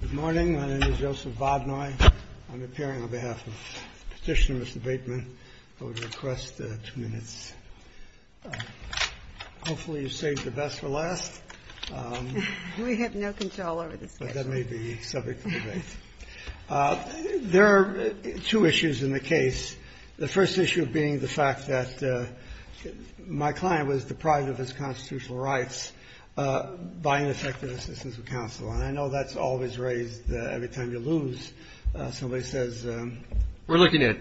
Good morning. My name is Joseph Vodnoy. I'm appearing on behalf of Petitioner Mr. Bateman. I would request two minutes. Hopefully you saved the best for last. We have no control over this case. But that may be subject to debate. There are two issues in the case, the first issue being the fact that my client was deprived of his constitutional rights by ineffective assistance of counsel. And I know that's always raised every time you lose. Somebody says the — We're looking at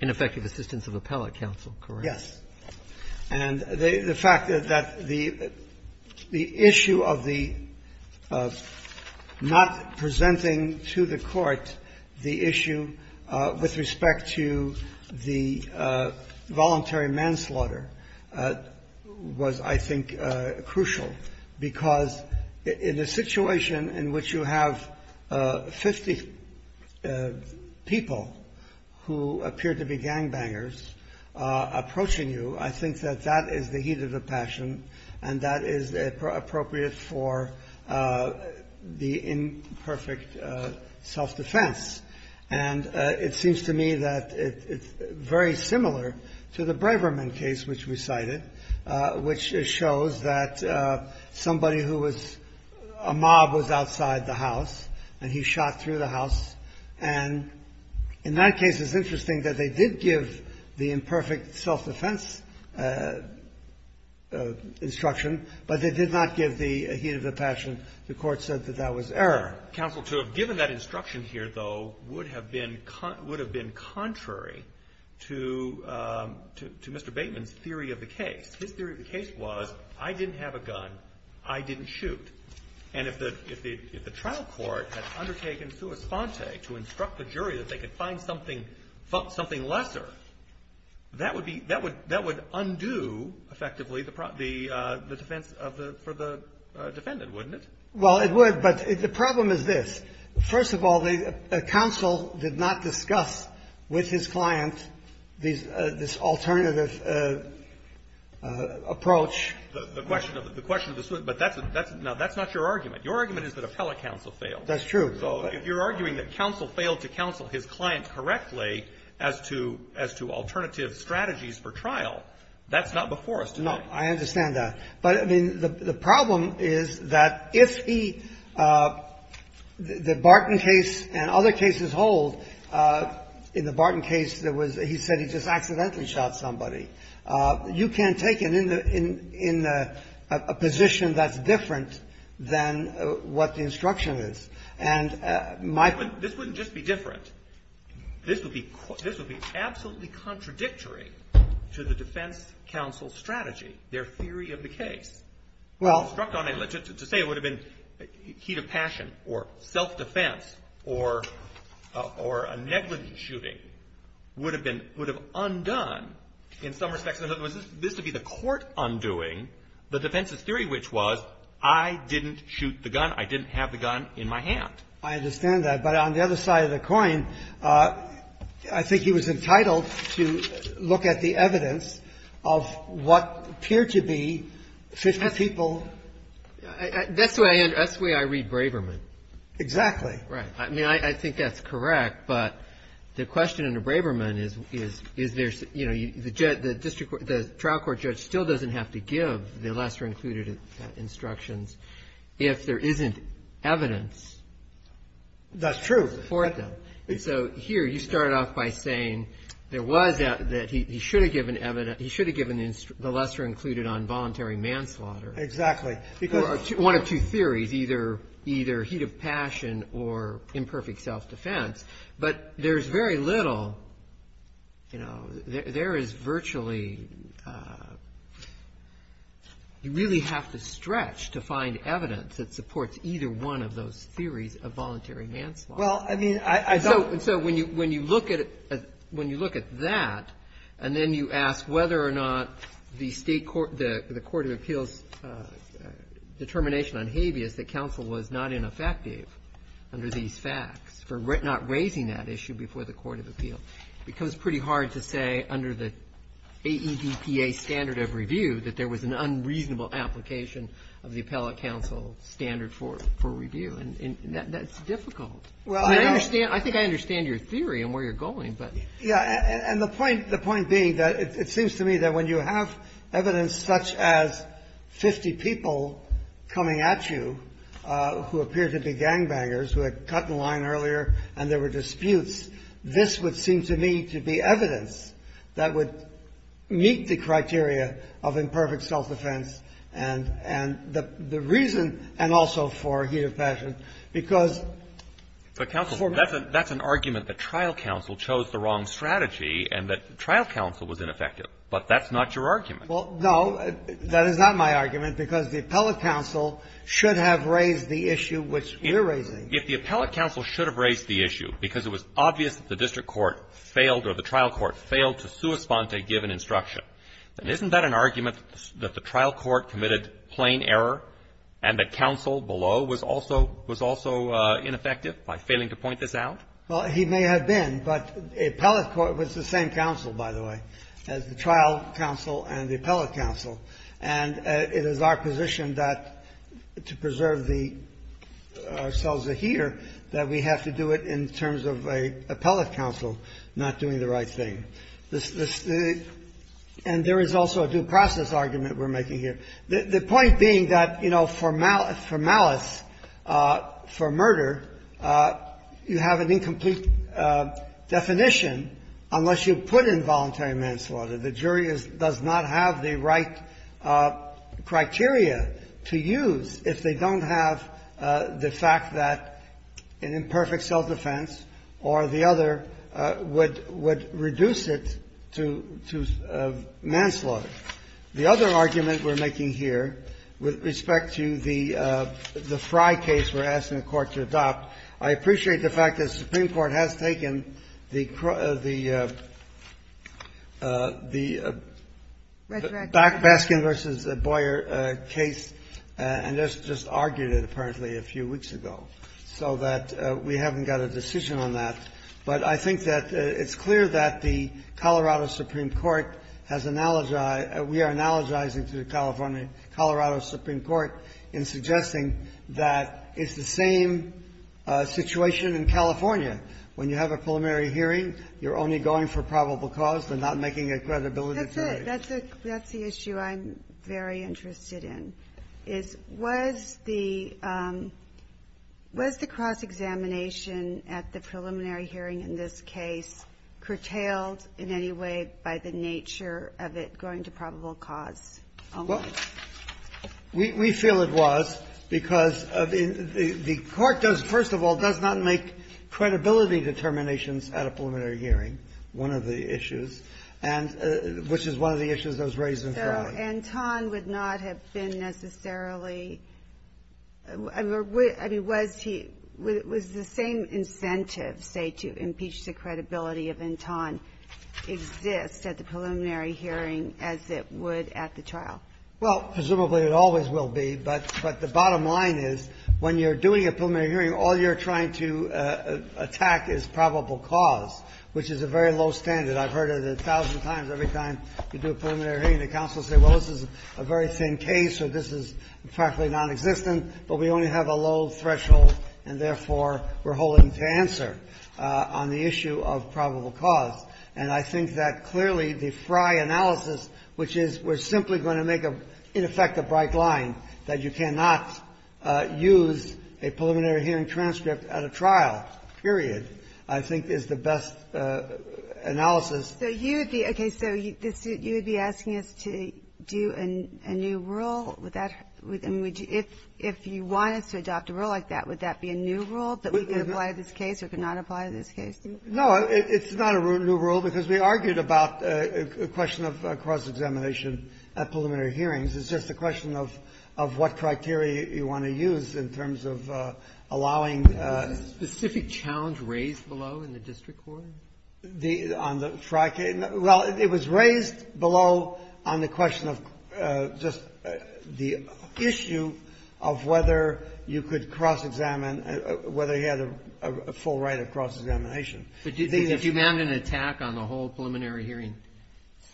ineffective assistance of appellate counsel, correct? Yes. And the fact that the issue of the not presenting to the Court the issue with respect to the voluntary manslaughter was, I think, crucial because in a situation in which you have 50 people who appear to be gangbangers approaching you, I think that that is the heat of the passion and that is appropriate for the imperfect self-defense. And it seems to me that it's very similar to the Braverman case which we cited, which shows that somebody who was — a mob was outside the house and he shot through the house. And in that case, it's interesting that they did give the imperfect self-defense instruction, but they did not give the heat of the passion. The Court said that that was error. Counsel, to have given that instruction here, though, would have been contrary to Mr. Bateman's theory of the case. His theory of the case was, I didn't have a gun, I didn't shoot. And if the trial court had undertaken sua sponte, to instruct the jury that they could find something lesser, that would be — that would undo, effectively, the defense of the — for the defendant, wouldn't it? Well, it would. But the problem is this. First of all, the counsel did not discuss with his client this alternative approach. The question of the — but that's — now, that's not your argument. Your argument is that appellate counsel failed. That's true. So if you're arguing that counsel failed to counsel his client correctly as to — as to alternative strategies for trial, that's not before us today. No, I understand that. But, I mean, the problem is that if he — the Barton case and other cases hold, in the Barton case, there was — he said he just accidentally shot somebody. You can't take it in the — in a position that's different than what the instruction is. And my — This wouldn't just be different. This would be — this would be absolutely contradictory to the defense counsel's strategy, their theory of the case. Well — To say it would have been heat of passion or self-defense or a negligent shooting would have been — would have undone, in some respects, in other words, this would be the court undoing the defense's theory, which was, I didn't shoot the gun. I didn't have the gun in my hand. I understand that. But on the other side of the coin, I think he was entitled to look at the evidence of what appeared to be 50 people — That's the way I read Braverman. Exactly. Right. I mean, I think that's correct. But the question under Braverman is, is there's — you know, the district — the trial court judge still doesn't have to give the lesser-included instructions if there isn't evidence. That's true. Before them. So here, you started off by saying there was — that he should have given evidence — he should have given the lesser-included on voluntary manslaughter. Exactly. Because — One of two theories, either heat of passion or imperfect self-defense. But there's very little — you know, there is virtually — you really have to stretch to find evidence that supports either one of those theories of voluntary manslaughter. Well, I mean, I thought — So when you look at — when you look at that, and then you ask whether or not the state court — the court of appeals' determination on habeas, that counsel was not ineffective under these facts for not raising that issue before the court of appeals, it becomes pretty hard to say under the AEDPA standard of review that there was an unreasonable application of the appellate counsel standard for review. And that's difficult. Well, I don't — I understand — I think I understand your theory and where you're going, but — Yeah. And the point — the point being that it seems to me that when you have evidence such as 50 people coming at you who appear to be gangbangers, who had cut in line earlier and there were disputes, this would seem to me to be evidence that would meet the criteria of imperfect self-defense and — and the reason — and also for me, I don't think it would meet the criteria of imperfect self-defense in an executive fashion because — But, counsel, that's an — that's an argument that trial counsel chose the wrong strategy and that trial counsel was ineffective, but that's not your argument. Well, no, that is not my argument, because the appellate counsel should have raised the issue which we're raising. If the appellate counsel should have raised the issue because it was obvious that the district court failed or the trial court failed to correspond to a given instruction, then isn't that an argument that the trial court committed plain error and the counsel below was also — was also ineffective by failing to point this out? Well, he may have been, but appellate court was the same counsel, by the way, as the trial counsel and the appellate counsel, and it is our position that to preserve the — ourselves a here, that we have to do it in terms of an appellate counsel not doing the right thing. And there is also a due process argument we're making here. The point being that, you know, for malice — for malice, for murder, you have an incomplete definition unless you put involuntary manslaughter. The jury is — does not have the right criteria to use if they don't have the fact that an imperfect self-defense or the other would — would reduce it to — to manslaughter. The other argument we're making here with respect to the — the Frye case we're asking the Court to adopt, I appreciate the fact that the Supreme Court has taken the — the — the Baskin v. Boyer case, and just argued it, apparently, a few weeks ago, so that we haven't got a decision on that. But I think that it's clear that the Colorado Supreme Court has — we are analogizing to the California — Colorado Supreme Court in suggesting that it's the same situation in California. When you have a preliminary hearing, you're only going for probable cause. They're not making a credibility theory. That's a — that's the issue I'm very interested in, is was the — was the cross-examination at the preliminary hearing in this case curtailed in any way by the nature of it going to probable cause? Well, we — we feel it was, because the Court does — first of all, does not make credibility determinations at a preliminary hearing, one of the issues, and — which is one of the issues that was raised in Florida. So Anton would not have been necessarily — I mean, was he — was the same incentive, say, to impeach the credibility of Anton exist at the preliminary hearing as it would at the trial? Well, presumably it always will be, but the bottom line is when you're doing a preliminary hearing, all you're trying to attack is probable cause, which is a very low standard. I've heard it a thousand times. Every time you do a preliminary hearing, the counsel say, well, this is a very thin case, or this is practically nonexistent, but we only have a low threshold, and therefore we're holding to answer on the issue of probable cause. And I think that clearly the Frye analysis, which is we're simply going to make a — in effect a bright line that you cannot use a preliminary hearing transcript at a trial, period, I think is the best analysis. So you would be — okay. So you would be asking us to do a new rule? Would that — I mean, if you wanted to adopt a rule like that, would that be a new rule that we could apply to this case or could not apply to this case? No, it's not a new rule, because we argued about a question of cross-examination at preliminary hearings. It's just a question of what criteria you want to use in terms of allowing — Was a specific challenge raised below in the district court? The — on the Frye case? Well, it was raised below on the question of just the issue of whether you could cross-examine — whether he had a full right of cross-examination. But did you — did you mount an attack on the whole preliminary hearing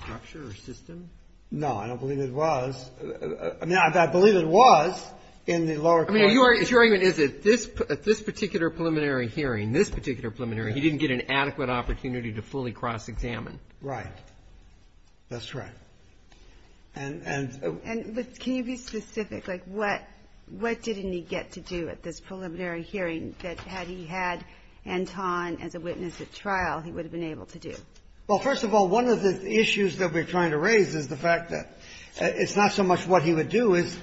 structure or system? No. I don't believe it was. I mean, I believe it was in the lower court. I mean, your argument is that this — at this particular preliminary hearing, this particular preliminary, he didn't get an adequate opportunity to fully cross-examine. Right. That's right. And — And can you be specific? Like, what — what didn't he get to do at this preliminary hearing that, had he had Anton as a witness at trial, he would have been able to do? Well, first of all, one of the issues that we're trying to raise is the fact that it's not so much what he would do as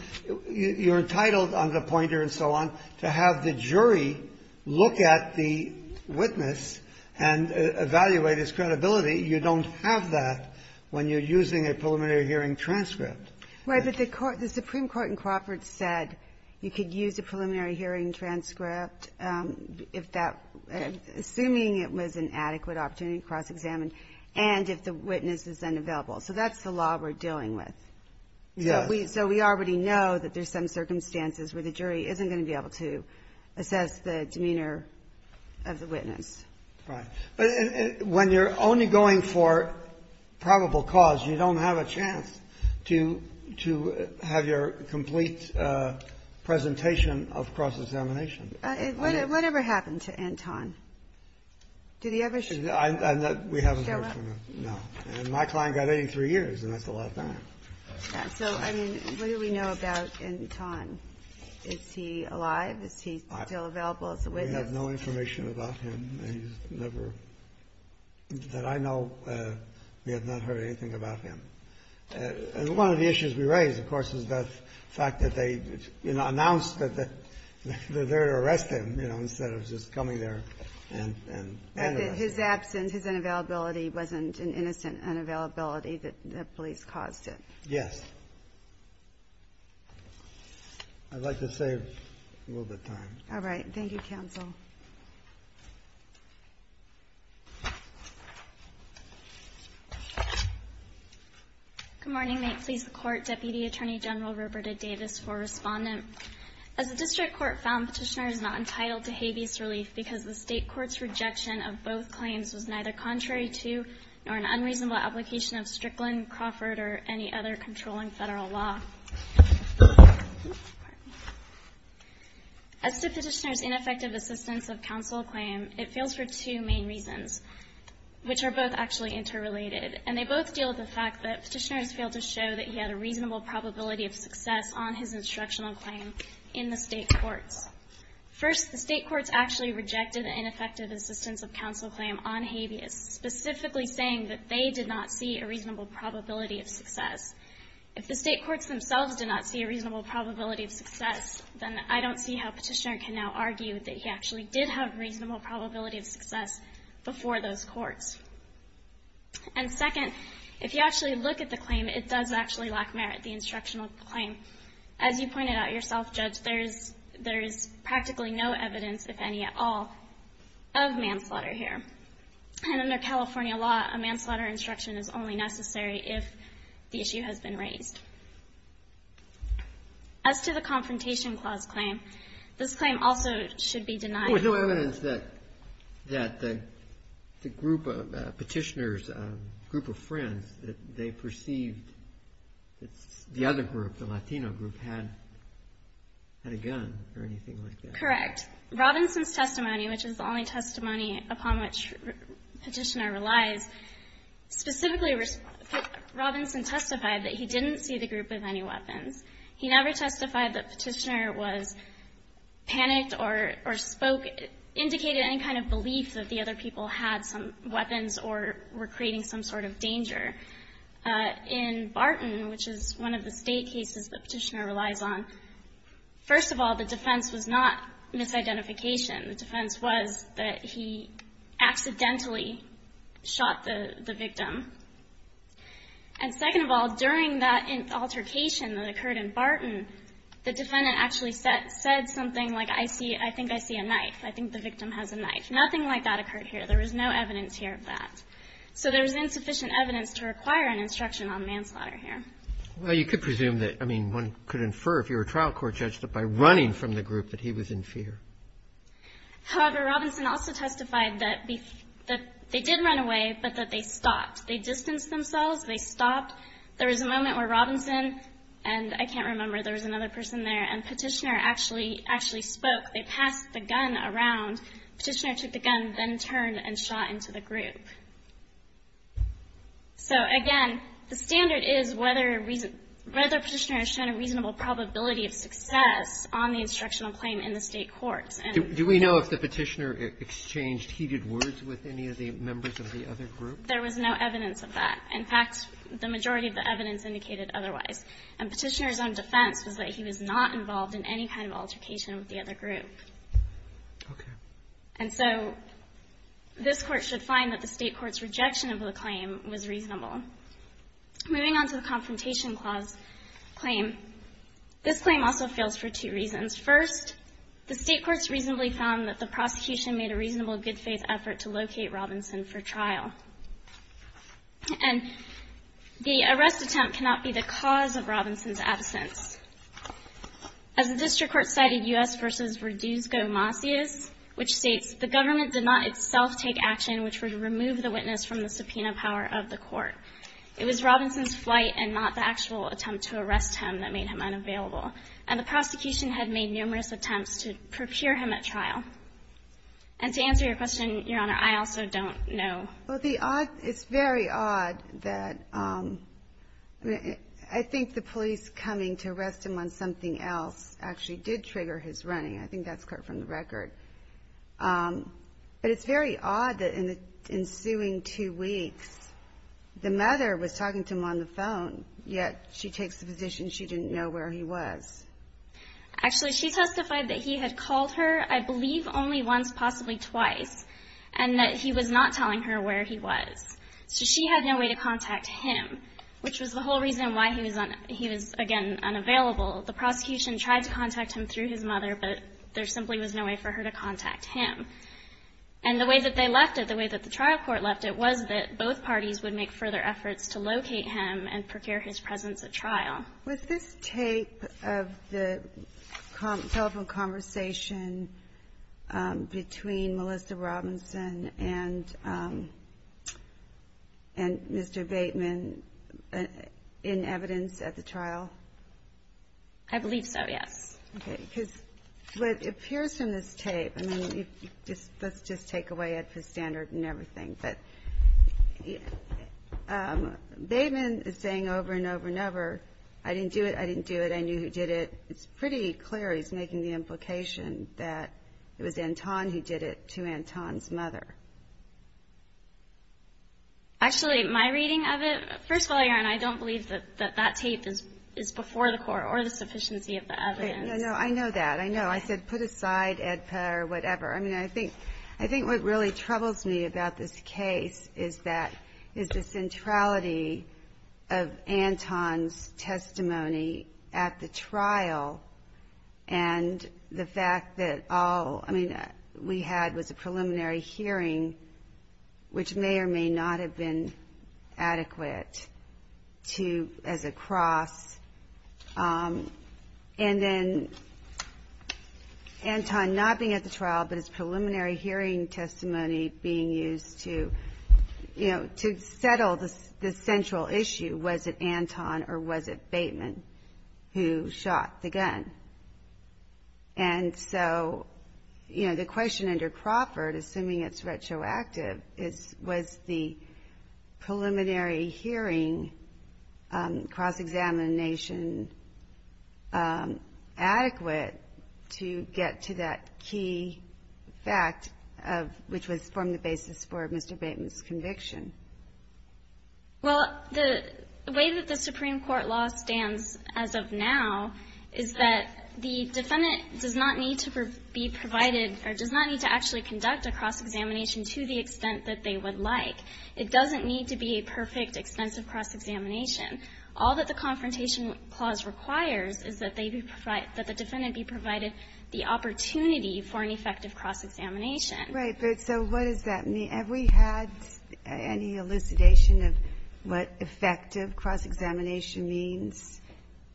you're entitled on the pointer and so on to have the jury look at the witness and evaluate his credibility. You don't have that when you're using a preliminary hearing transcript. Right. But the Supreme Court in Crawford said you could use a preliminary hearing transcript if that — assuming it was an adequate opportunity to cross-examine, and if the witness is unavailable. So that's the law we're dealing with. Yes. So we already know that there's some circumstances where the jury isn't going to be able to assess the demeanor of the witness. Right. But when you're only going for probable cause, you don't have a chance to — to have your complete presentation of cross-examination. Whatever happened to Anton? Did he ever show up? We haven't heard from him, no. And my client got 83 years, and that's a lot of time. So, I mean, what do we know about Anton? Is he alive? Is he still available as a witness? We have no information about him. He's never — that I know, we have not heard anything about him. And one of the issues we raise, of course, is the fact that they, you know, announced that they're there to arrest him, you know, instead of just coming there and — And that his absence, his unavailability wasn't an innocent unavailability, that the police caused it. Yes. I'd like to save a little bit of time. All right. Thank you, counsel. Good morning. May it please the Court, Deputy Attorney General Roberta Davis for Respondent. As the District Court found, Petitioner is not entitled to habeas relief because the both claims was neither contrary to, nor an unreasonable application of Strickland, Crawford, or any other controlling federal law. As to Petitioner's ineffective assistance of counsel claim, it fails for two main reasons, which are both actually interrelated. And they both deal with the fact that Petitioner has failed to show that he had a reasonable probability of success on his instructional claim in the state courts. First, the state courts actually rejected the ineffective assistance of counsel claim on habeas, specifically saying that they did not see a reasonable probability of success. If the state courts themselves did not see a reasonable probability of success, then I don't see how Petitioner can now argue that he actually did have a reasonable probability of success before those courts. And second, if you actually look at the claim, it does actually lack merit, the instructional claim. As you pointed out yourself, Judge, there is practically no evidence, if any at all, of manslaughter here. And under California law, a manslaughter instruction is only necessary if the issue has been raised. As to the Confrontation Clause claim, this claim also should be denied. There was no evidence that the group of Petitioner's group of friends, that they were friends of Petitioner's group, had a gun or anything like that. Correct. Robinson's testimony, which is the only testimony upon which Petitioner relies, specifically, Robinson testified that he didn't see the group with any weapons. He never testified that Petitioner was panicked or spoke, indicated any kind of belief that the other people had some weapons or were creating some sort of danger. In Barton, which is one of the State cases that Petitioner relies on, first of all, the defense was not misidentification. The defense was that he accidentally shot the victim. And second of all, during that altercation that occurred in Barton, the defendant actually said something like, I think I see a knife. I think the victim has a knife. There was no evidence here of that. So there was insufficient evidence to require an instruction on manslaughter here. Well, you could presume that, I mean, one could infer, if you were a trial court judge, that by running from the group, that he was in fear. However, Robinson also testified that they did run away, but that they stopped. They distanced themselves. They stopped. There was a moment where Robinson, and I can't remember, there was another person there, and Petitioner actually spoke. They passed the gun around. Petitioner took the gun, then turned and shot into the group. So, again, the standard is whether Petitioner has shown a reasonable probability of success on the instructional claim in the State courts. And do we know if the Petitioner exchanged heated words with any of the members of the other group? There was no evidence of that. In fact, the majority of the evidence indicated otherwise. And Petitioner's own defense was that he was not involved in any kind of altercation with the other group. And so, this Court should find that the State court's rejection of the claim was reasonable. Moving on to the Confrontation Clause claim, this claim also fails for two reasons. First, the State courts reasonably found that the prosecution made a reasonable good faith effort to locate Robinson for trial. And the arrest attempt cannot be the cause of Robinson's absence. As the district court cited U.S. v. Verduzco-Masias, which states, the government did not itself take action which would remove the witness from the subpoena power of the court. It was Robinson's flight and not the actual attempt to arrest him that made him unavailable. And the prosecution had made numerous attempts to prepare him at trial. And to answer your question, Your Honor, I also don't know. Well, the odd, it's very odd that, I mean, I think the police coming to arrest him on something else actually did trigger his running. I think that's correct from the record. But it's very odd that in the ensuing two weeks, the mother was talking to him on the phone, yet she takes the position she didn't know where he was. Actually, she testified that he had called her, I believe, only once, possibly twice, and that he was not telling her where he was. So she had no way to contact him, which was the whole reason why he was, again, unavailable. The prosecution tried to contact him through his mother, but there simply was no way for her to contact him. And the way that they left it, the way that the trial court left it, was that both parties would make further efforts to locate him and procure his presence at trial. Was this tape of the telephone conversation between Melissa Robinson and Mr. Bateman in evidence at the trial? I believe so, yes. OK, because what appears in this tape, I mean, let's just take away Edford's standard and everything. But Bateman is saying over and over and over, I didn't do it, I didn't do it, I knew who did it. It's pretty clear he's making the implication that it was Anton who did it to Anton's mother. Actually, my reading of it, first of all, Erin, I don't believe that that tape is before the court or the sufficiency of the evidence. No, no, I know that. I know. I said, put aside Edpa or whatever. I mean, I think I think what really troubles me about this case is that is the centrality of Anton's testimony at the trial and the fact that all we had was a preliminary hearing, which may or may not have been adequate to as a cross. And then Anton not being at the trial, but his preliminary hearing testimony being used to, you know, to settle the central issue. Was it Anton or was it Bateman who shot the gun? And so, you know, the question under Crawford, assuming it's retroactive, is the preliminary hearing cross-examination adequate to get to that key fact of, which was from the basis for Mr. Bateman's conviction? Well, the way that the Supreme Court law stands as of now is that the defendant does not need to be provided or does not need to actually conduct a cross-examination to the extent that they would like. It doesn't need to be a perfect extensive cross-examination. All that the confrontation clause requires is that they be provided, that the defendant be provided the opportunity for an effective cross-examination. Right. But so what does that mean? Have we had any elucidation of what effective cross-examination means?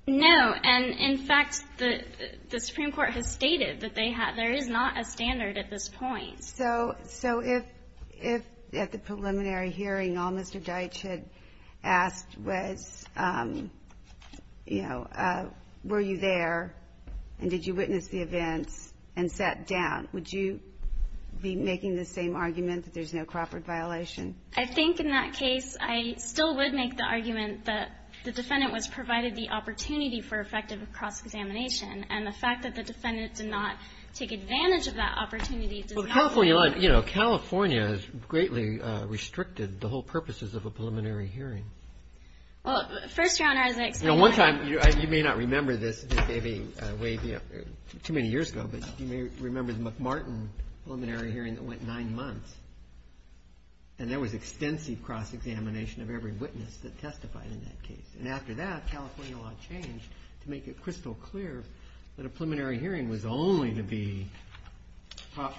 No. And in fact, the Supreme Court has stated that they have. There is not a standard at this point. So if at the preliminary hearing all Mr. Deitch had asked was, you know, were you there and did you witness the events and sat down, would you be making the same argument that there's no Crawford violation? I think in that case, I still would make the argument that the defendant was provided the opportunity for effective cross-examination. And the fact that the defendant did not take advantage of that opportunity California, you know, California has greatly restricted the whole purposes of a preliminary hearing. Well, first round, I was like, you know, one time you may not remember this, maybe way too many years ago, but you may remember the McMartin preliminary hearing that went nine months and there was extensive cross-examination of every witness that testified in that case. And after that California law changed to make it crystal clear that a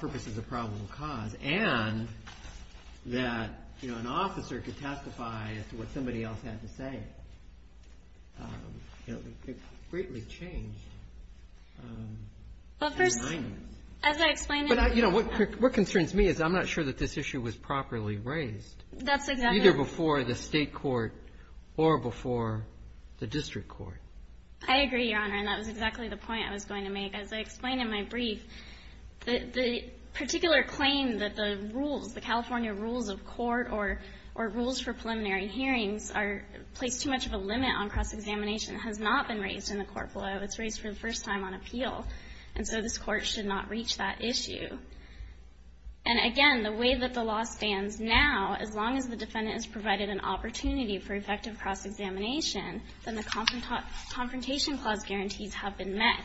witness is a probable cause and that, you know, an officer could testify as to what somebody else had to say, you know, it greatly changed the findings. But first, as I explained to you... But, you know, what concerns me is I'm not sure that this issue was properly raised either before the state court or before the district court. I agree, Your Honor, and that was exactly the point I was going to make. As I explained in my brief, the particular claim that the rules, the California rules of court or rules for preliminary hearings are placed too much of a limit on cross-examination has not been raised in the court below. It's raised for the first time on appeal. And so this court should not reach that issue. And again, the way that the law stands now, as long as the defendant is provided an opportunity for effective cross-examination, then the confrontation clause guarantees have been met.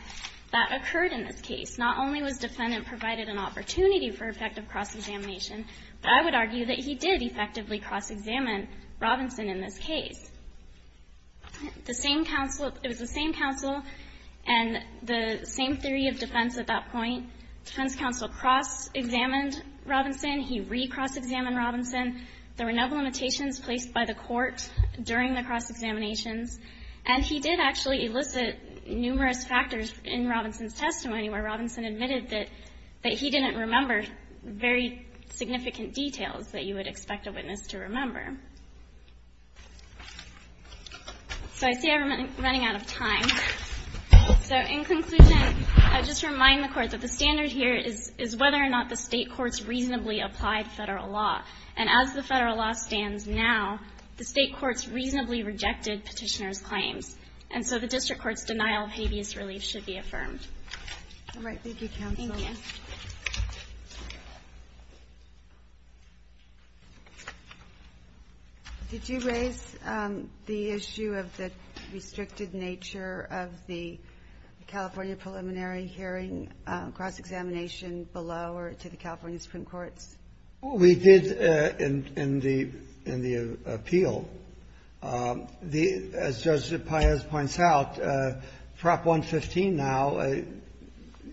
That occurred in this case. Not only was defendant provided an opportunity for effective cross-examination, but I would argue that he did effectively cross-examine Robinson in this case. The same counsel, it was the same counsel and the same theory of defense at that point, defense counsel cross-examined Robinson, he re-cross-examined Robinson. There were no limitations placed by the court during the cross-examinations. And he did actually elicit numerous factors in Robinson's testimony, where Robinson admitted that he didn't remember very significant details that you would expect a witness to remember. So I see I'm running out of time. So in conclusion, I just remind the court that the standard here is whether or not the state courts reasonably applied federal law. And as the federal law stands now, the state courts reasonably rejected petitioner's claims. And so the district court's denial of habeas relief should be affirmed. All right, thank you, counsel. Thank you. Did you raise the issue of the restricted nature of the California preliminary hearing cross-examination below or to the California Supreme Courts? We did in the appeal. As Judge Paez points out, Prop 115 now,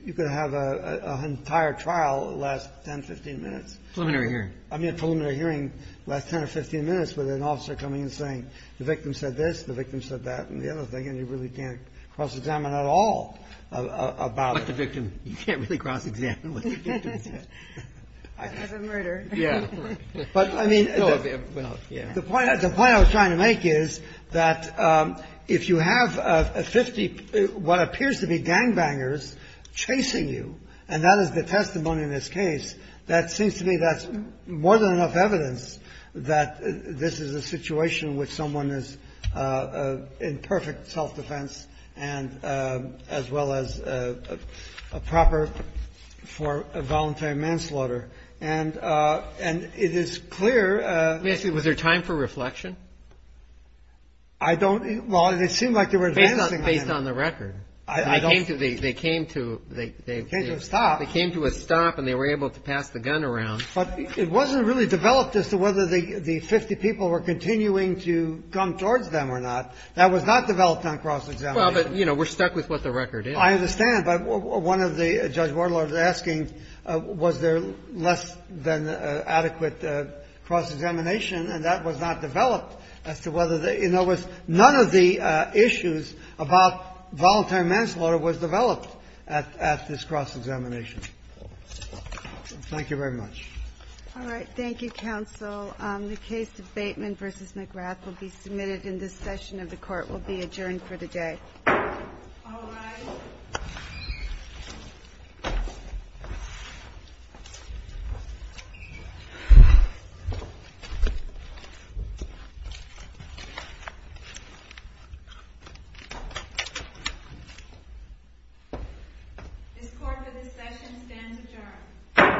you could have an entire trial last 10, 15 minutes. Preliminary hearing. I mean, preliminary hearing last 10 or 15 minutes with an officer coming and saying the victim said this, the victim said that, and the other thing, and you really can't cross-examine at all about it. But the victim, you can't really cross-examine what the victim said. I'd have a murder. Yeah. But, I mean, the point I was trying to make is that if you have a 50, what appears to be gangbangers chasing you, and that is the testimony in this case, that seems to me that's more than enough evidence that this is a situation in which someone is in perfect self-defense and as well as a proper for a voluntary murder, manslaughter, and it is clear. Let me ask you, was there time for reflection? I don't, well, it seemed like they were advancing on it. Based on the record. I don't. They came to a stop. They came to a stop and they were able to pass the gun around. But it wasn't really developed as to whether the 50 people were continuing to jump towards them or not. That was not developed on cross-examination. Well, but, you know, we're stuck with what the record is. I understand, but one of the judge warlords is asking, was there less than adequate cross-examination, and that was not developed as to whether the – in other words, none of the issues about voluntary manslaughter was developed at this cross-examination. Thank you very much. All right. Thank you, counsel. The case of Bateman v. McGrath will be submitted in this session of the Court, will be adjourned for the day. All rise. This court for this session stands adjourned.